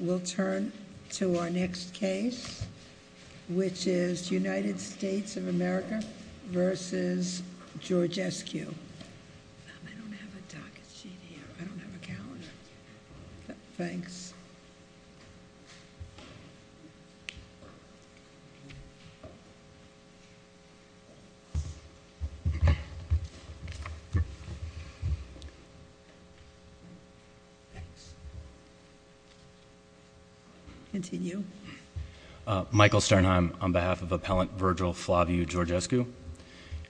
We'll turn to our next case, which is United States of America v. George S.Q. I don't have a docket sheet here. I don't have a calendar. Thanks. Continue. Michael Sternheim on behalf of Appellant Virgil Flavio Georgescu.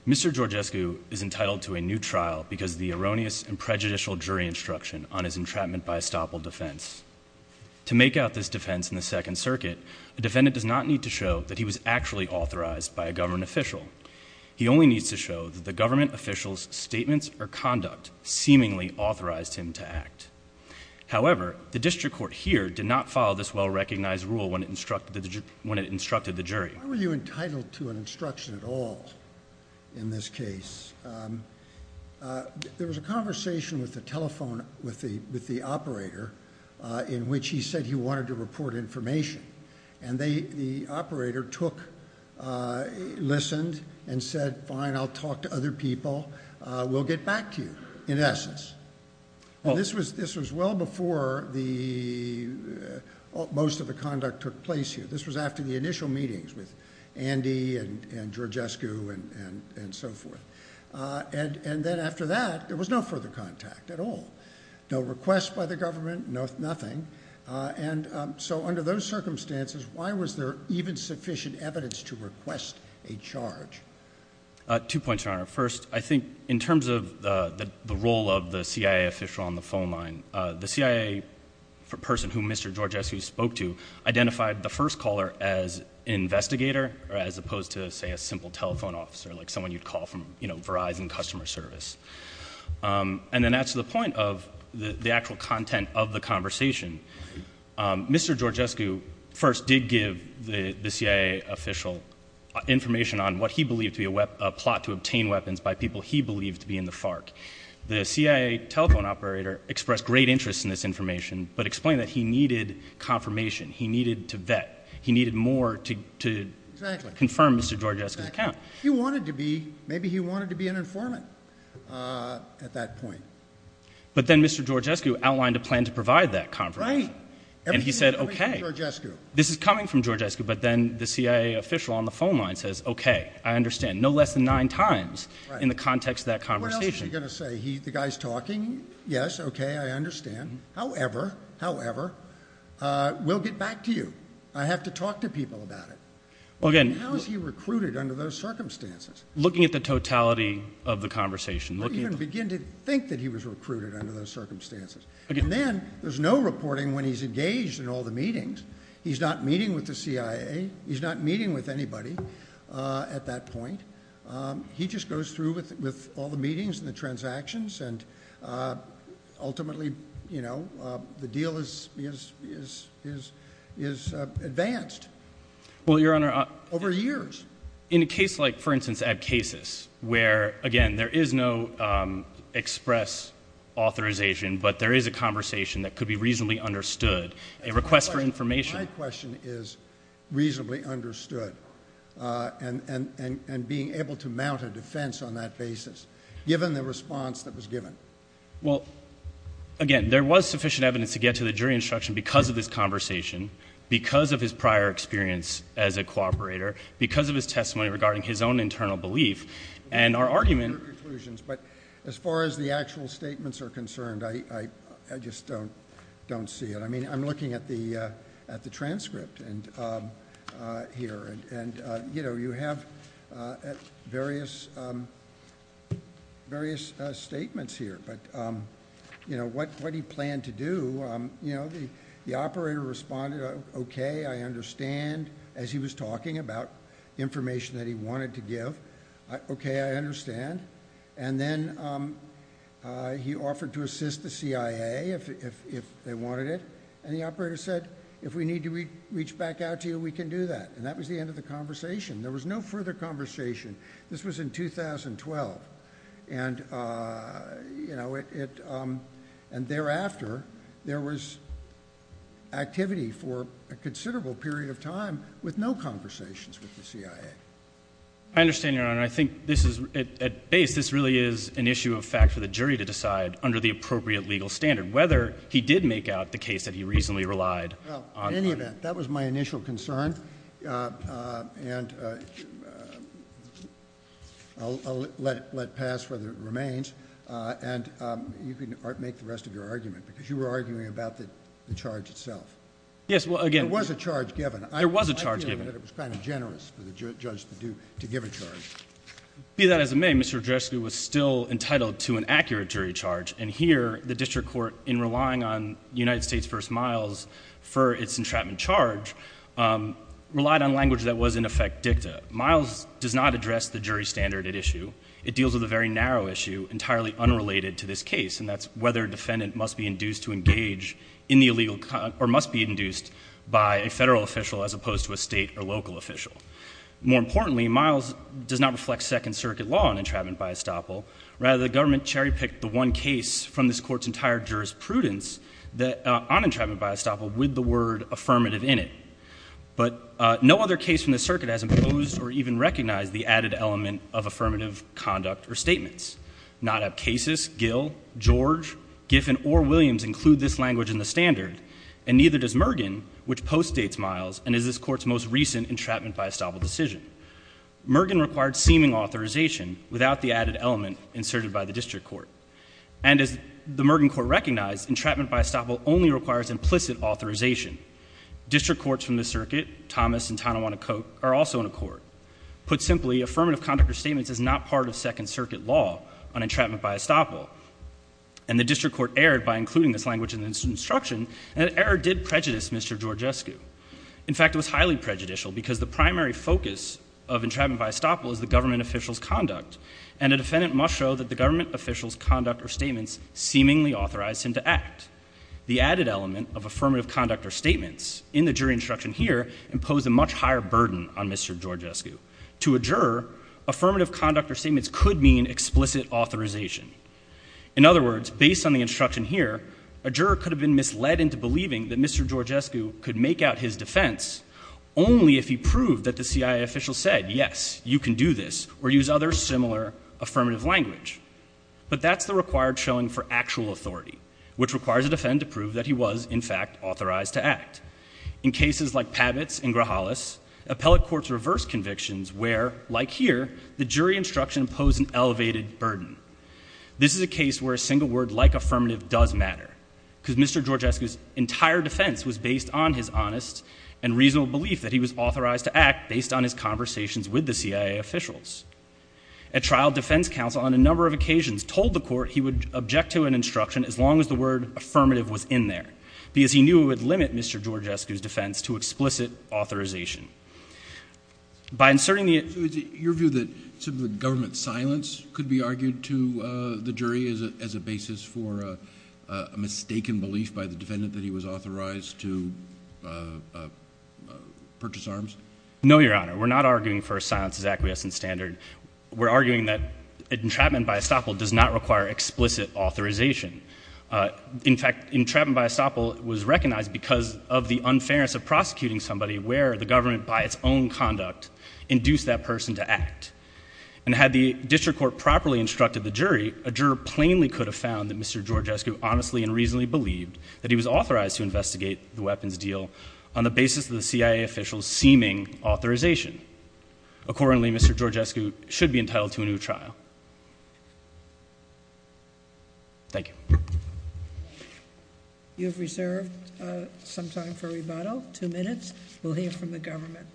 Mr. Georgescu is entitled to a new trial because of the erroneous and prejudicial jury instruction on his entrapment by estoppel defense. To make out this defense in the Second Circuit, a defendant does not need to show that he was actually authorized by a government official. He only needs to show that the government official's statements or conduct seemingly authorized him to act. However, the district court here did not follow this well-recognized rule when it instructed the jury. Why were you entitled to an instruction at all in this case? There was a conversation with the operator in which he said he wanted to report information. And the operator listened and said, fine, I'll talk to other people. We'll get back to you, in essence. This was well before most of the conduct took place here. This was after the initial meetings with Andy and Georgescu and so forth. And then after that, there was no further contact at all. No requests by the government, nothing. And so under those circumstances, why was there even sufficient evidence to request a charge? Two points, Your Honor. First, I think in terms of the role of the CIA official on the phone line, the CIA person whom Mr. Georgescu spoke to identified the first caller as an investigator, as opposed to, say, a simple telephone officer, like someone you'd call from Verizon customer service. And then that's the point of the actual content of the conversation. Mr. Georgescu first did give the CIA official information on what he believed to be a plot to obtain weapons by people he believed to be in the FARC. The CIA telephone operator expressed great interest in this information, but explained that he needed confirmation. He needed to vet. He needed more to confirm Mr. Georgescu's account. He wanted to be. Maybe he wanted to be an informant at that point. But then Mr. Georgescu outlined a plan to provide that confirmation. And he said, okay, this is coming from Georgescu. But then the CIA official on the phone line says, okay, I understand, no less than nine times in the context of that conversation. What else was he going to say? The guy's talking? Yes, okay, I understand. However, however, we'll get back to you. I have to talk to people about it. How is he recruited under those circumstances? Looking at the totality of the conversation. I don't even begin to think that he was recruited under those circumstances. And then there's no reporting when he's engaged in all the meetings. He's not meeting with the CIA. He's not meeting with anybody at that point. He just goes through with all the meetings and the transactions, and ultimately, you know, the deal is advanced. Well, Your Honor. Over years. In a case like, for instance, ab casis, where, again, there is no express authorization, but there is a conversation that could be reasonably understood, a request for information. My question is reasonably understood and being able to mount a defense on that basis, given the response that was given. Well, again, there was sufficient evidence to get to the jury instruction because of this conversation, because of his prior experience as a cooperator, because of his testimony regarding his own internal belief, and our argument. But as far as the actual statements are concerned, I just don't see it. I mean, I'm looking at the transcript here, and, you know, you have various statements here. But, you know, what he planned to do, you know, the operator responded, okay, I understand, as he was talking about information that he wanted to give. Okay, I understand. And then he offered to assist the CIA if they wanted it. And the operator said, if we need to reach back out to you, we can do that. And that was the end of the conversation. There was no further conversation. This was in 2012. And, you know, and thereafter, there was activity for a considerable period of time with no conversations with the CIA. I understand, Your Honor. I think this is, at base, this really is an issue of fact for the jury to decide under the appropriate legal standard, whether he did make out the case that he reasonably relied on. In any event, that was my initial concern, and I'll let it pass whether it remains. And you can make the rest of your argument, because you were arguing about the charge itself. Yes, well, again — There was a charge given. There was a charge given. I feel that it was kind of generous for the judge to give a charge. Be that as it may, Mr. Dreschke was still entitled to an accurate jury charge. And here, the district court, in relying on United States v. Miles for its entrapment charge, relied on language that was, in effect, dicta. Miles does not address the jury standard at issue. It deals with a very narrow issue entirely unrelated to this case, and that's whether a defendant must be induced to engage in the illegal — or must be induced by a federal official as opposed to a state or local official. More importantly, Miles does not reflect Second Circuit law on entrapment by estoppel. Rather, the government cherry-picked the one case from this Court's entire jurisprudence on entrapment by estoppel with the word affirmative in it. But no other case from the Circuit has imposed or even recognized the added element of affirmative conduct or statements. Not Appe Casis, Gill, George, Giffen, or Williams include this language in the standard, and neither does Mergen, which postdates Miles and is this Court's most recent entrapment by estoppel decision. Mergen required seeming authorization without the added element inserted by the district court. And as the Mergen Court recognized, entrapment by estoppel only requires implicit authorization. District courts from the Circuit, Thomas and Tanawanakote, are also in accord. Put simply, affirmative conduct or statements is not part of Second Circuit law on entrapment by estoppel. And the district court erred by including this language in its instruction, and that error did prejudice Mr. Georgescu. In fact, it was highly prejudicial because the primary focus of entrapment by estoppel is the government official's conduct, and a defendant must show that the government official's conduct or statements seemingly authorized him to act. The added element of affirmative conduct or statements in the jury instruction here imposed a much higher burden on Mr. Georgescu. To a juror, affirmative conduct or statements could mean explicit authorization. In other words, based on the instruction here, a juror could have been misled into believing that Mr. Georgescu could make out his defense, only if he proved that the CIA official said, yes, you can do this, or use other similar affirmative language. But that's the required showing for actual authority, which requires a defendant to prove that he was, in fact, authorized to act. In cases like Pabitz and Grahalis, appellate courts reverse convictions where, like here, the jury instruction imposed an elevated burden. This is a case where a single word like affirmative does matter, because Mr. Georgescu's entire defense was based on his honest and reasonable belief that he was authorized to act based on his conversations with the CIA officials. A trial defense counsel on a number of occasions told the court he would object to an instruction as long as the word affirmative was in there, because he knew it would limit Mr. Georgescu's defense to explicit authorization. By inserting the... So is it your view that government silence could be argued to the jury as a basis for a mistaken belief by the defendant that he was authorized to purchase arms? No, Your Honor. We're not arguing for silence as acquiescent standard. We're arguing that entrapment by estoppel does not require explicit authorization. In fact, entrapment by estoppel was recognized because of the unfairness of prosecuting somebody where the government, by its own conduct, induced that person to act. And had the district court properly instructed the jury, a juror plainly could have found that Mr. Georgescu honestly and reasonably believed that he was authorized to investigate the weapons deal on the basis of the CIA official's seeming authorization. Accordingly, Mr. Georgescu should be entitled to a new trial. Thank you. You have reserved some time for rebuttal. Two minutes. We'll hear from the government.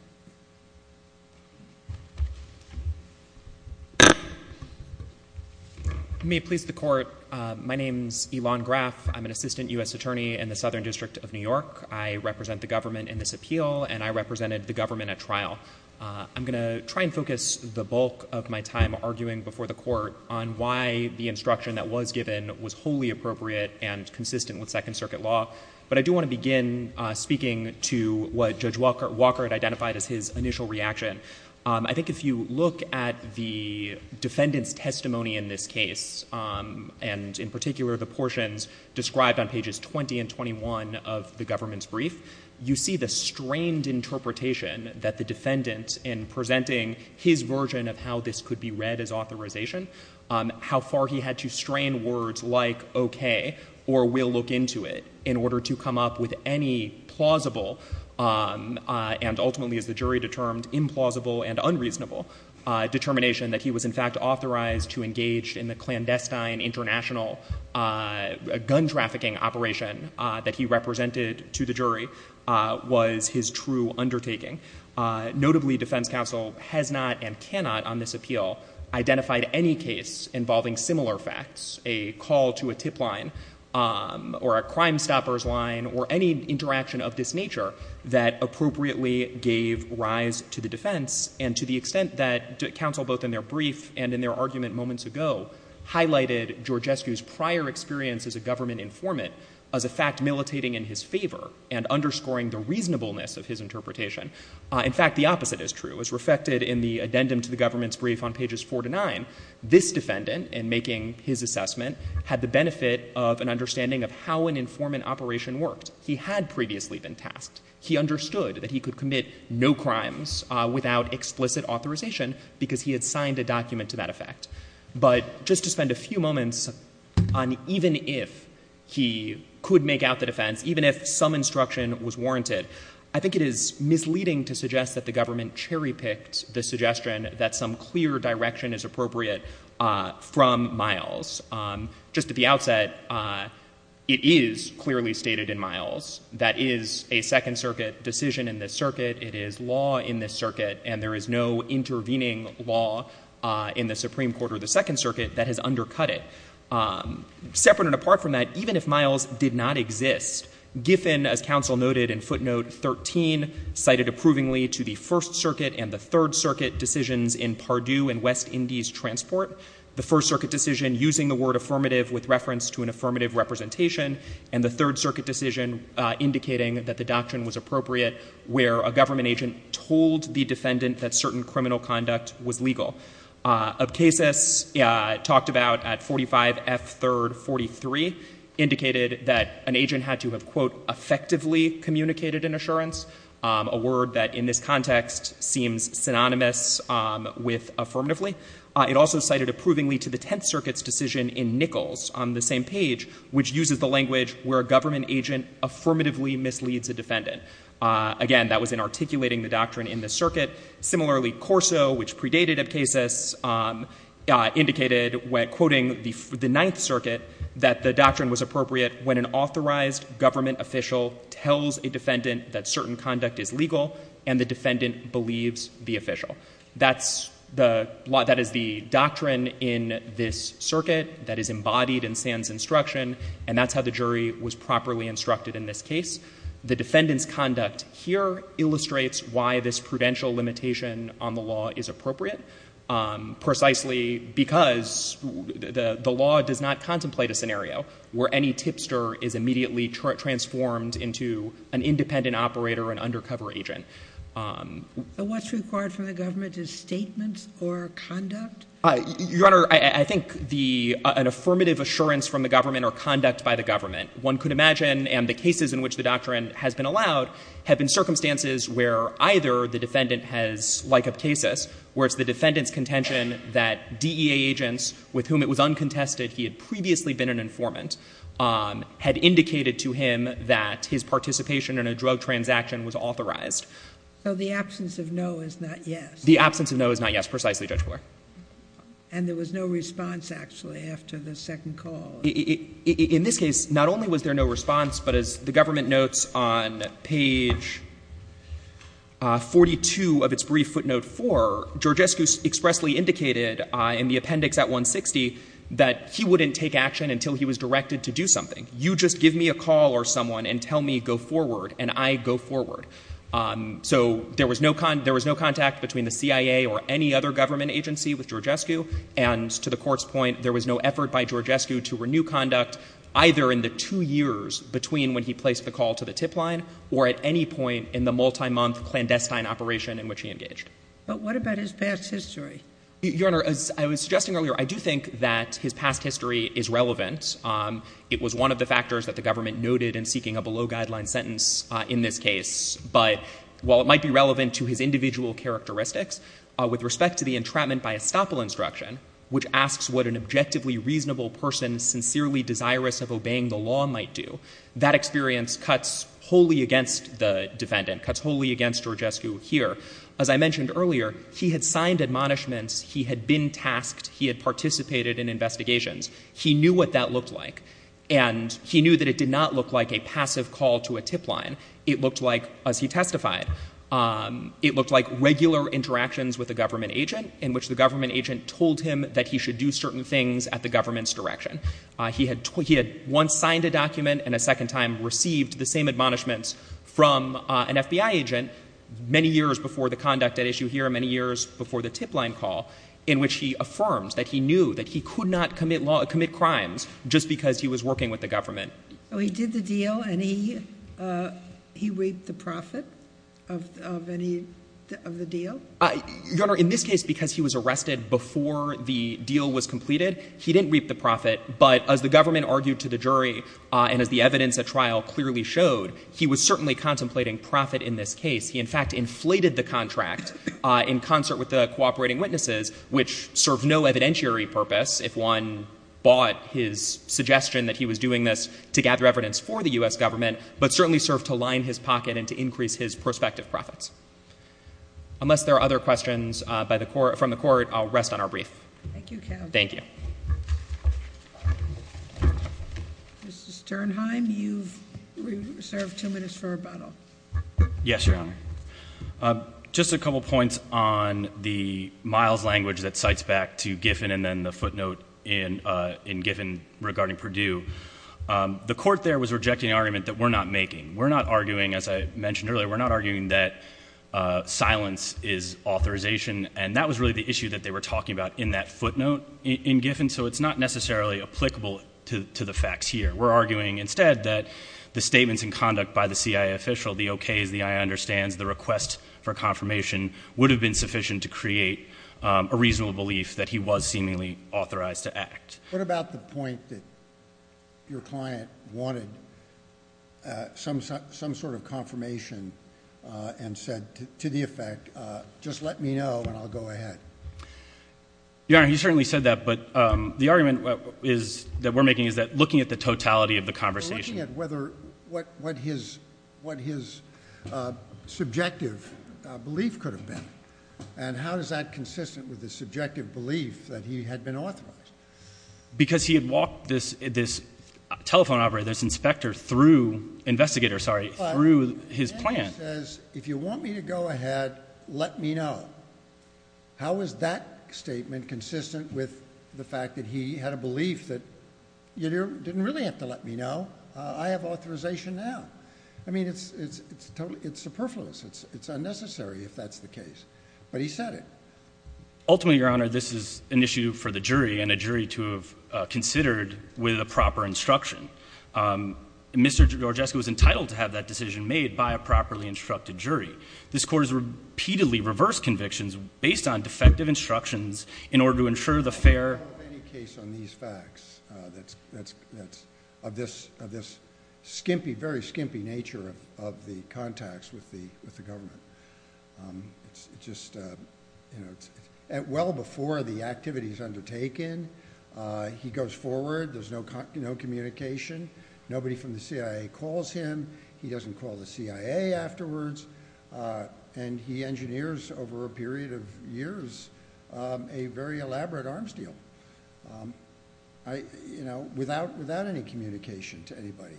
May it please the court, my name is Elon Graf. I'm an assistant U.S. attorney in the Southern District of New York. I represent the government in this appeal, and I represented the government at trial. I'm going to try and focus the bulk of my time arguing before the court on why the instruction that was given was wholly appropriate and consistent with Second Circuit law. But I do want to begin speaking to what Judge Walker had identified as his initial reaction. I think if you look at the defendant's testimony in this case, and in particular the portions described on pages 20 and 21 of the government's brief, you see the strained interpretation that the defendant, in presenting his version of how this could be read as authorization, how far he had to strain words like okay or we'll look into it in order to come up with any plausible and ultimately, as the jury determined, implausible and unreasonable determination that he was in fact authorized to engage in the clandestine international gun trafficking operation that he represented to the jury. That was his true undertaking. Notably, defense counsel has not and cannot on this appeal identified any case involving similar facts, a call to a tip line or a crime stopper's line or any interaction of this nature that appropriately gave rise to the defense. And to the extent that counsel both in their brief and in their argument moments ago highlighted Georgescu's prior experience as a government informant as a fact militating in his favor and underscoring the reasonableness of his interpretation, in fact the opposite is true. As reflected in the addendum to the government's brief on pages 4 to 9, this defendant in making his assessment had the benefit of an understanding of how an informant operation worked. He had previously been tasked. He understood that he could commit no crimes without explicit authorization because he had signed a document to that effect. But just to spend a few moments on even if he could make out the defense, even if some instruction was warranted, I think it is misleading to suggest that the government cherry picked the suggestion that some clear direction is appropriate from Miles. Just at the outset, it is clearly stated in Miles that is a Second Circuit decision in this circuit. It is law in this circuit and there is no intervening law in the Supreme Court or the Second Circuit that has undercut it. Separate and apart from that, even if Miles did not exist, Giffen, as counsel noted in footnote 13, cited approvingly to the First Circuit and the Third Circuit decisions in Pardue and West Indies Transport. The First Circuit decision using the word affirmative with reference to an affirmative representation and the Third Circuit decision indicating that the doctrine was appropriate where a government agent told the defendant that certain criminal conduct was legal. Abcasus talked about at 45 F. 3rd 43 indicated that an agent had to have, quote, effectively communicated an assurance, a word that in this context seems synonymous with affirmatively. It also cited approvingly to the Tenth Circuit's decision in Nichols on the same page, which uses the language where a government agent affirmatively misleads a defendant. Again, that was in articulating the doctrine in the circuit. Similarly, Corso, which predated Abcasus, indicated when quoting the Ninth Circuit that the doctrine was appropriate when an authorized government official tells a defendant that certain conduct is legal and the defendant believes the official. That is the doctrine in this circuit that is embodied in Sands' instruction, and that's how the jury was properly instructed in this case. The defendant's conduct here illustrates why this prudential limitation on the law is appropriate, precisely because the law does not contemplate a scenario where any tipster is immediately transformed into an independent operator, an undercover agent. But what's required from the government is statements or conduct? Your Honor, I don't think that's what's required from the government. One could imagine, and the cases in which the doctrine has been allowed, have been circumstances where either the defendant has like Abcasus, where it's the defendant's contention that DEA agents with whom it was uncontested he had previously been an informant had indicated to him that his participation in a drug transaction was authorized. So the absence of no is not yes? The absence of no is not yes, precisely, Judge Blatt. And there was no response, actually, after the second call? In this case, not only was there no response, but as the government notes on page 42 of its brief footnote 4, Georgescu expressly indicated in the appendix at 160 that he wouldn't take action until he was directed to do something. You just give me a call or someone and tell me go forward, and I go forward. So there was no contact between the CIA or any other government agency with Georgescu, and to the Court's point, there was no effort by Georgescu to renew conduct either in the two years between when he placed the call to the tip line or at any point in the multi-month clandestine operation in which he engaged. But what about his past history? Your Honor, as I was suggesting earlier, I do think that his past history is relevant. It was one of the factors that the government noted in seeking a below-guideline sentence in this case. But while it might be relevant to his individual characteristics, with respect to the entrapment by estoppel instruction, which asks what an objectively reasonable person sincerely desirous of obeying the law might do, that experience cuts wholly against the defendant, cuts wholly against Georgescu here. As I mentioned earlier, he had signed admonishments. He had been tasked. He had participated in investigations. He knew what that looked like, and he knew that it did not look like a passive call to a tip line. It looked like, as he testified, it looked like regular interactions with a government agent in which the government agent told him that he should do certain things at the government's direction. He had once signed a document and a second time received the same admonishments from an FBI agent many years before the conduct at issue here, many years before the tip line call, in which he affirmed that he knew that he could not commit crimes just because he was working with the government. Sotomayor. Oh, he did the deal, and he reaped the profit of the deal? Your Honor, in this case, because he was arrested before the deal was completed, he didn't reap the profit, but as the government argued to the jury and as the evidence at trial clearly showed, he was certainly contemplating profit in this case. He, in fact, inflated the contract in concert with the cooperating witnesses, which served no evidentiary purpose if one bought his suggestion that he was doing this to gather evidence for the U.S. government, but certainly served to line his pocket and to increase his prospective profits. Unless there are other questions from the Court, I'll rest on our brief. Thank you, Counsel. Thank you. Mr. Sternheim, you've reserved two minutes for rebuttal. Yes, Your Honor. Just a couple points on the Miles language that cites back to Giffen and then regarding Perdue. The Court there was rejecting an argument that we're not making. We're not arguing, as I mentioned earlier, we're not arguing that silence is authorization, and that was really the issue that they were talking about in that footnote in Giffen, so it's not necessarily applicable to the facts here. We're arguing instead that the statements in conduct by the CIA official, the okays, the I understands, the request for confirmation would have been sufficient to create a reasonable belief that he was seemingly authorized to act. What about the point that your client wanted some sort of confirmation and said to the effect, just let me know and I'll go ahead? Your Honor, he certainly said that, but the argument that we're making is that looking at the totality of the conversation. We're looking at what his subjective belief could have been, and how is that because he had walked this telephone operator, this inspector through, investigator, sorry, through his plan. But then he says, if you want me to go ahead, let me know. How is that statement consistent with the fact that he had a belief that you didn't really have to let me know. I have authorization now. I mean, it's superfluous. It's unnecessary if that's the case, but he said it. Ultimately, Your Honor, this is an issue for the jury and a jury to have considered with a proper instruction. Mr. Gorgeski was entitled to have that decision made by a properly instructed jury. This court has repeatedly reversed convictions based on defective instructions in order to ensure the fair... I don't have any case on these facts that's of this skimpy, very skimpy nature of the contacts with the government. It's just... Well before the activity is undertaken, he goes forward. There's no communication. Nobody from the CIA calls him. He doesn't call the CIA afterwards. And he engineers, over a period of years, a very elaborate arms deal without any communication to anybody.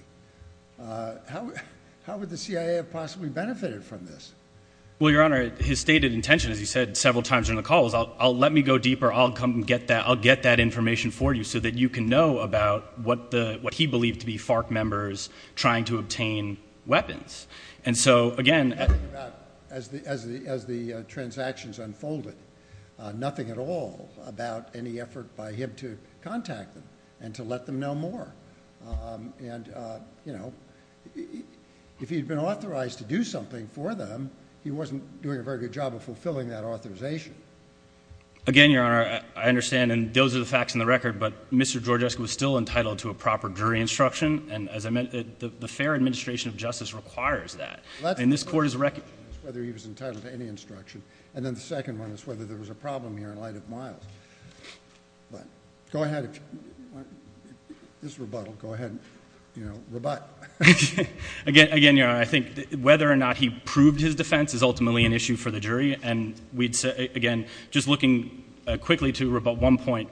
How would the CIA have possibly benefited from this? Well, Your Honor, his stated intention, as he said several times during the call, was I'll let me go deeper. I'll get that information for you so that you can know about what he believed to be FARC members trying to obtain weapons. And so, again... As the transactions unfolded, nothing at all about any effort by him to contact them and to let them know more. And, you know, if he had been authorized to do something for them, he wasn't doing a very good job of fulfilling that authorization. Again, Your Honor, I understand, and those are the facts in the record, but Mr. Georgescu was still entitled to a proper jury instruction, and as I meant, the fair administration of justice requires that. And this Court is... Well, that's one question, whether he was entitled to any instruction. And then the second one is whether there was a problem here in light of Miles. Go ahead. This rebuttal. Go ahead. You know, rebut. Again, Your Honor, I think whether or not he proved his defense is ultimately an issue for the jury. And we'd say, again, just looking quickly to rebut one point,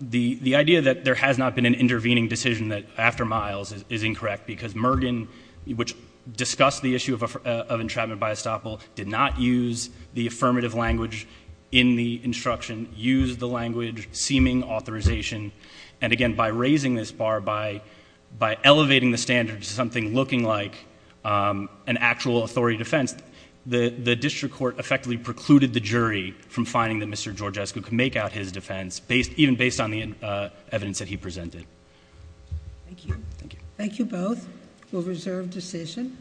the idea that there has not been an intervening decision after Miles is incorrect because Mergen, which discussed the issue of entrapment by estoppel, did not use the affirmative language in the instruction, used the language seeming authorization. And again, by raising this bar, by elevating the standard to something looking like an actual authority defense, the district court effectively precluded the jury from finding that Mr. Georgescu could make out his defense, even based on the evidence that he presented. Thank you. Thank you. Thank you both. We'll reserve decision.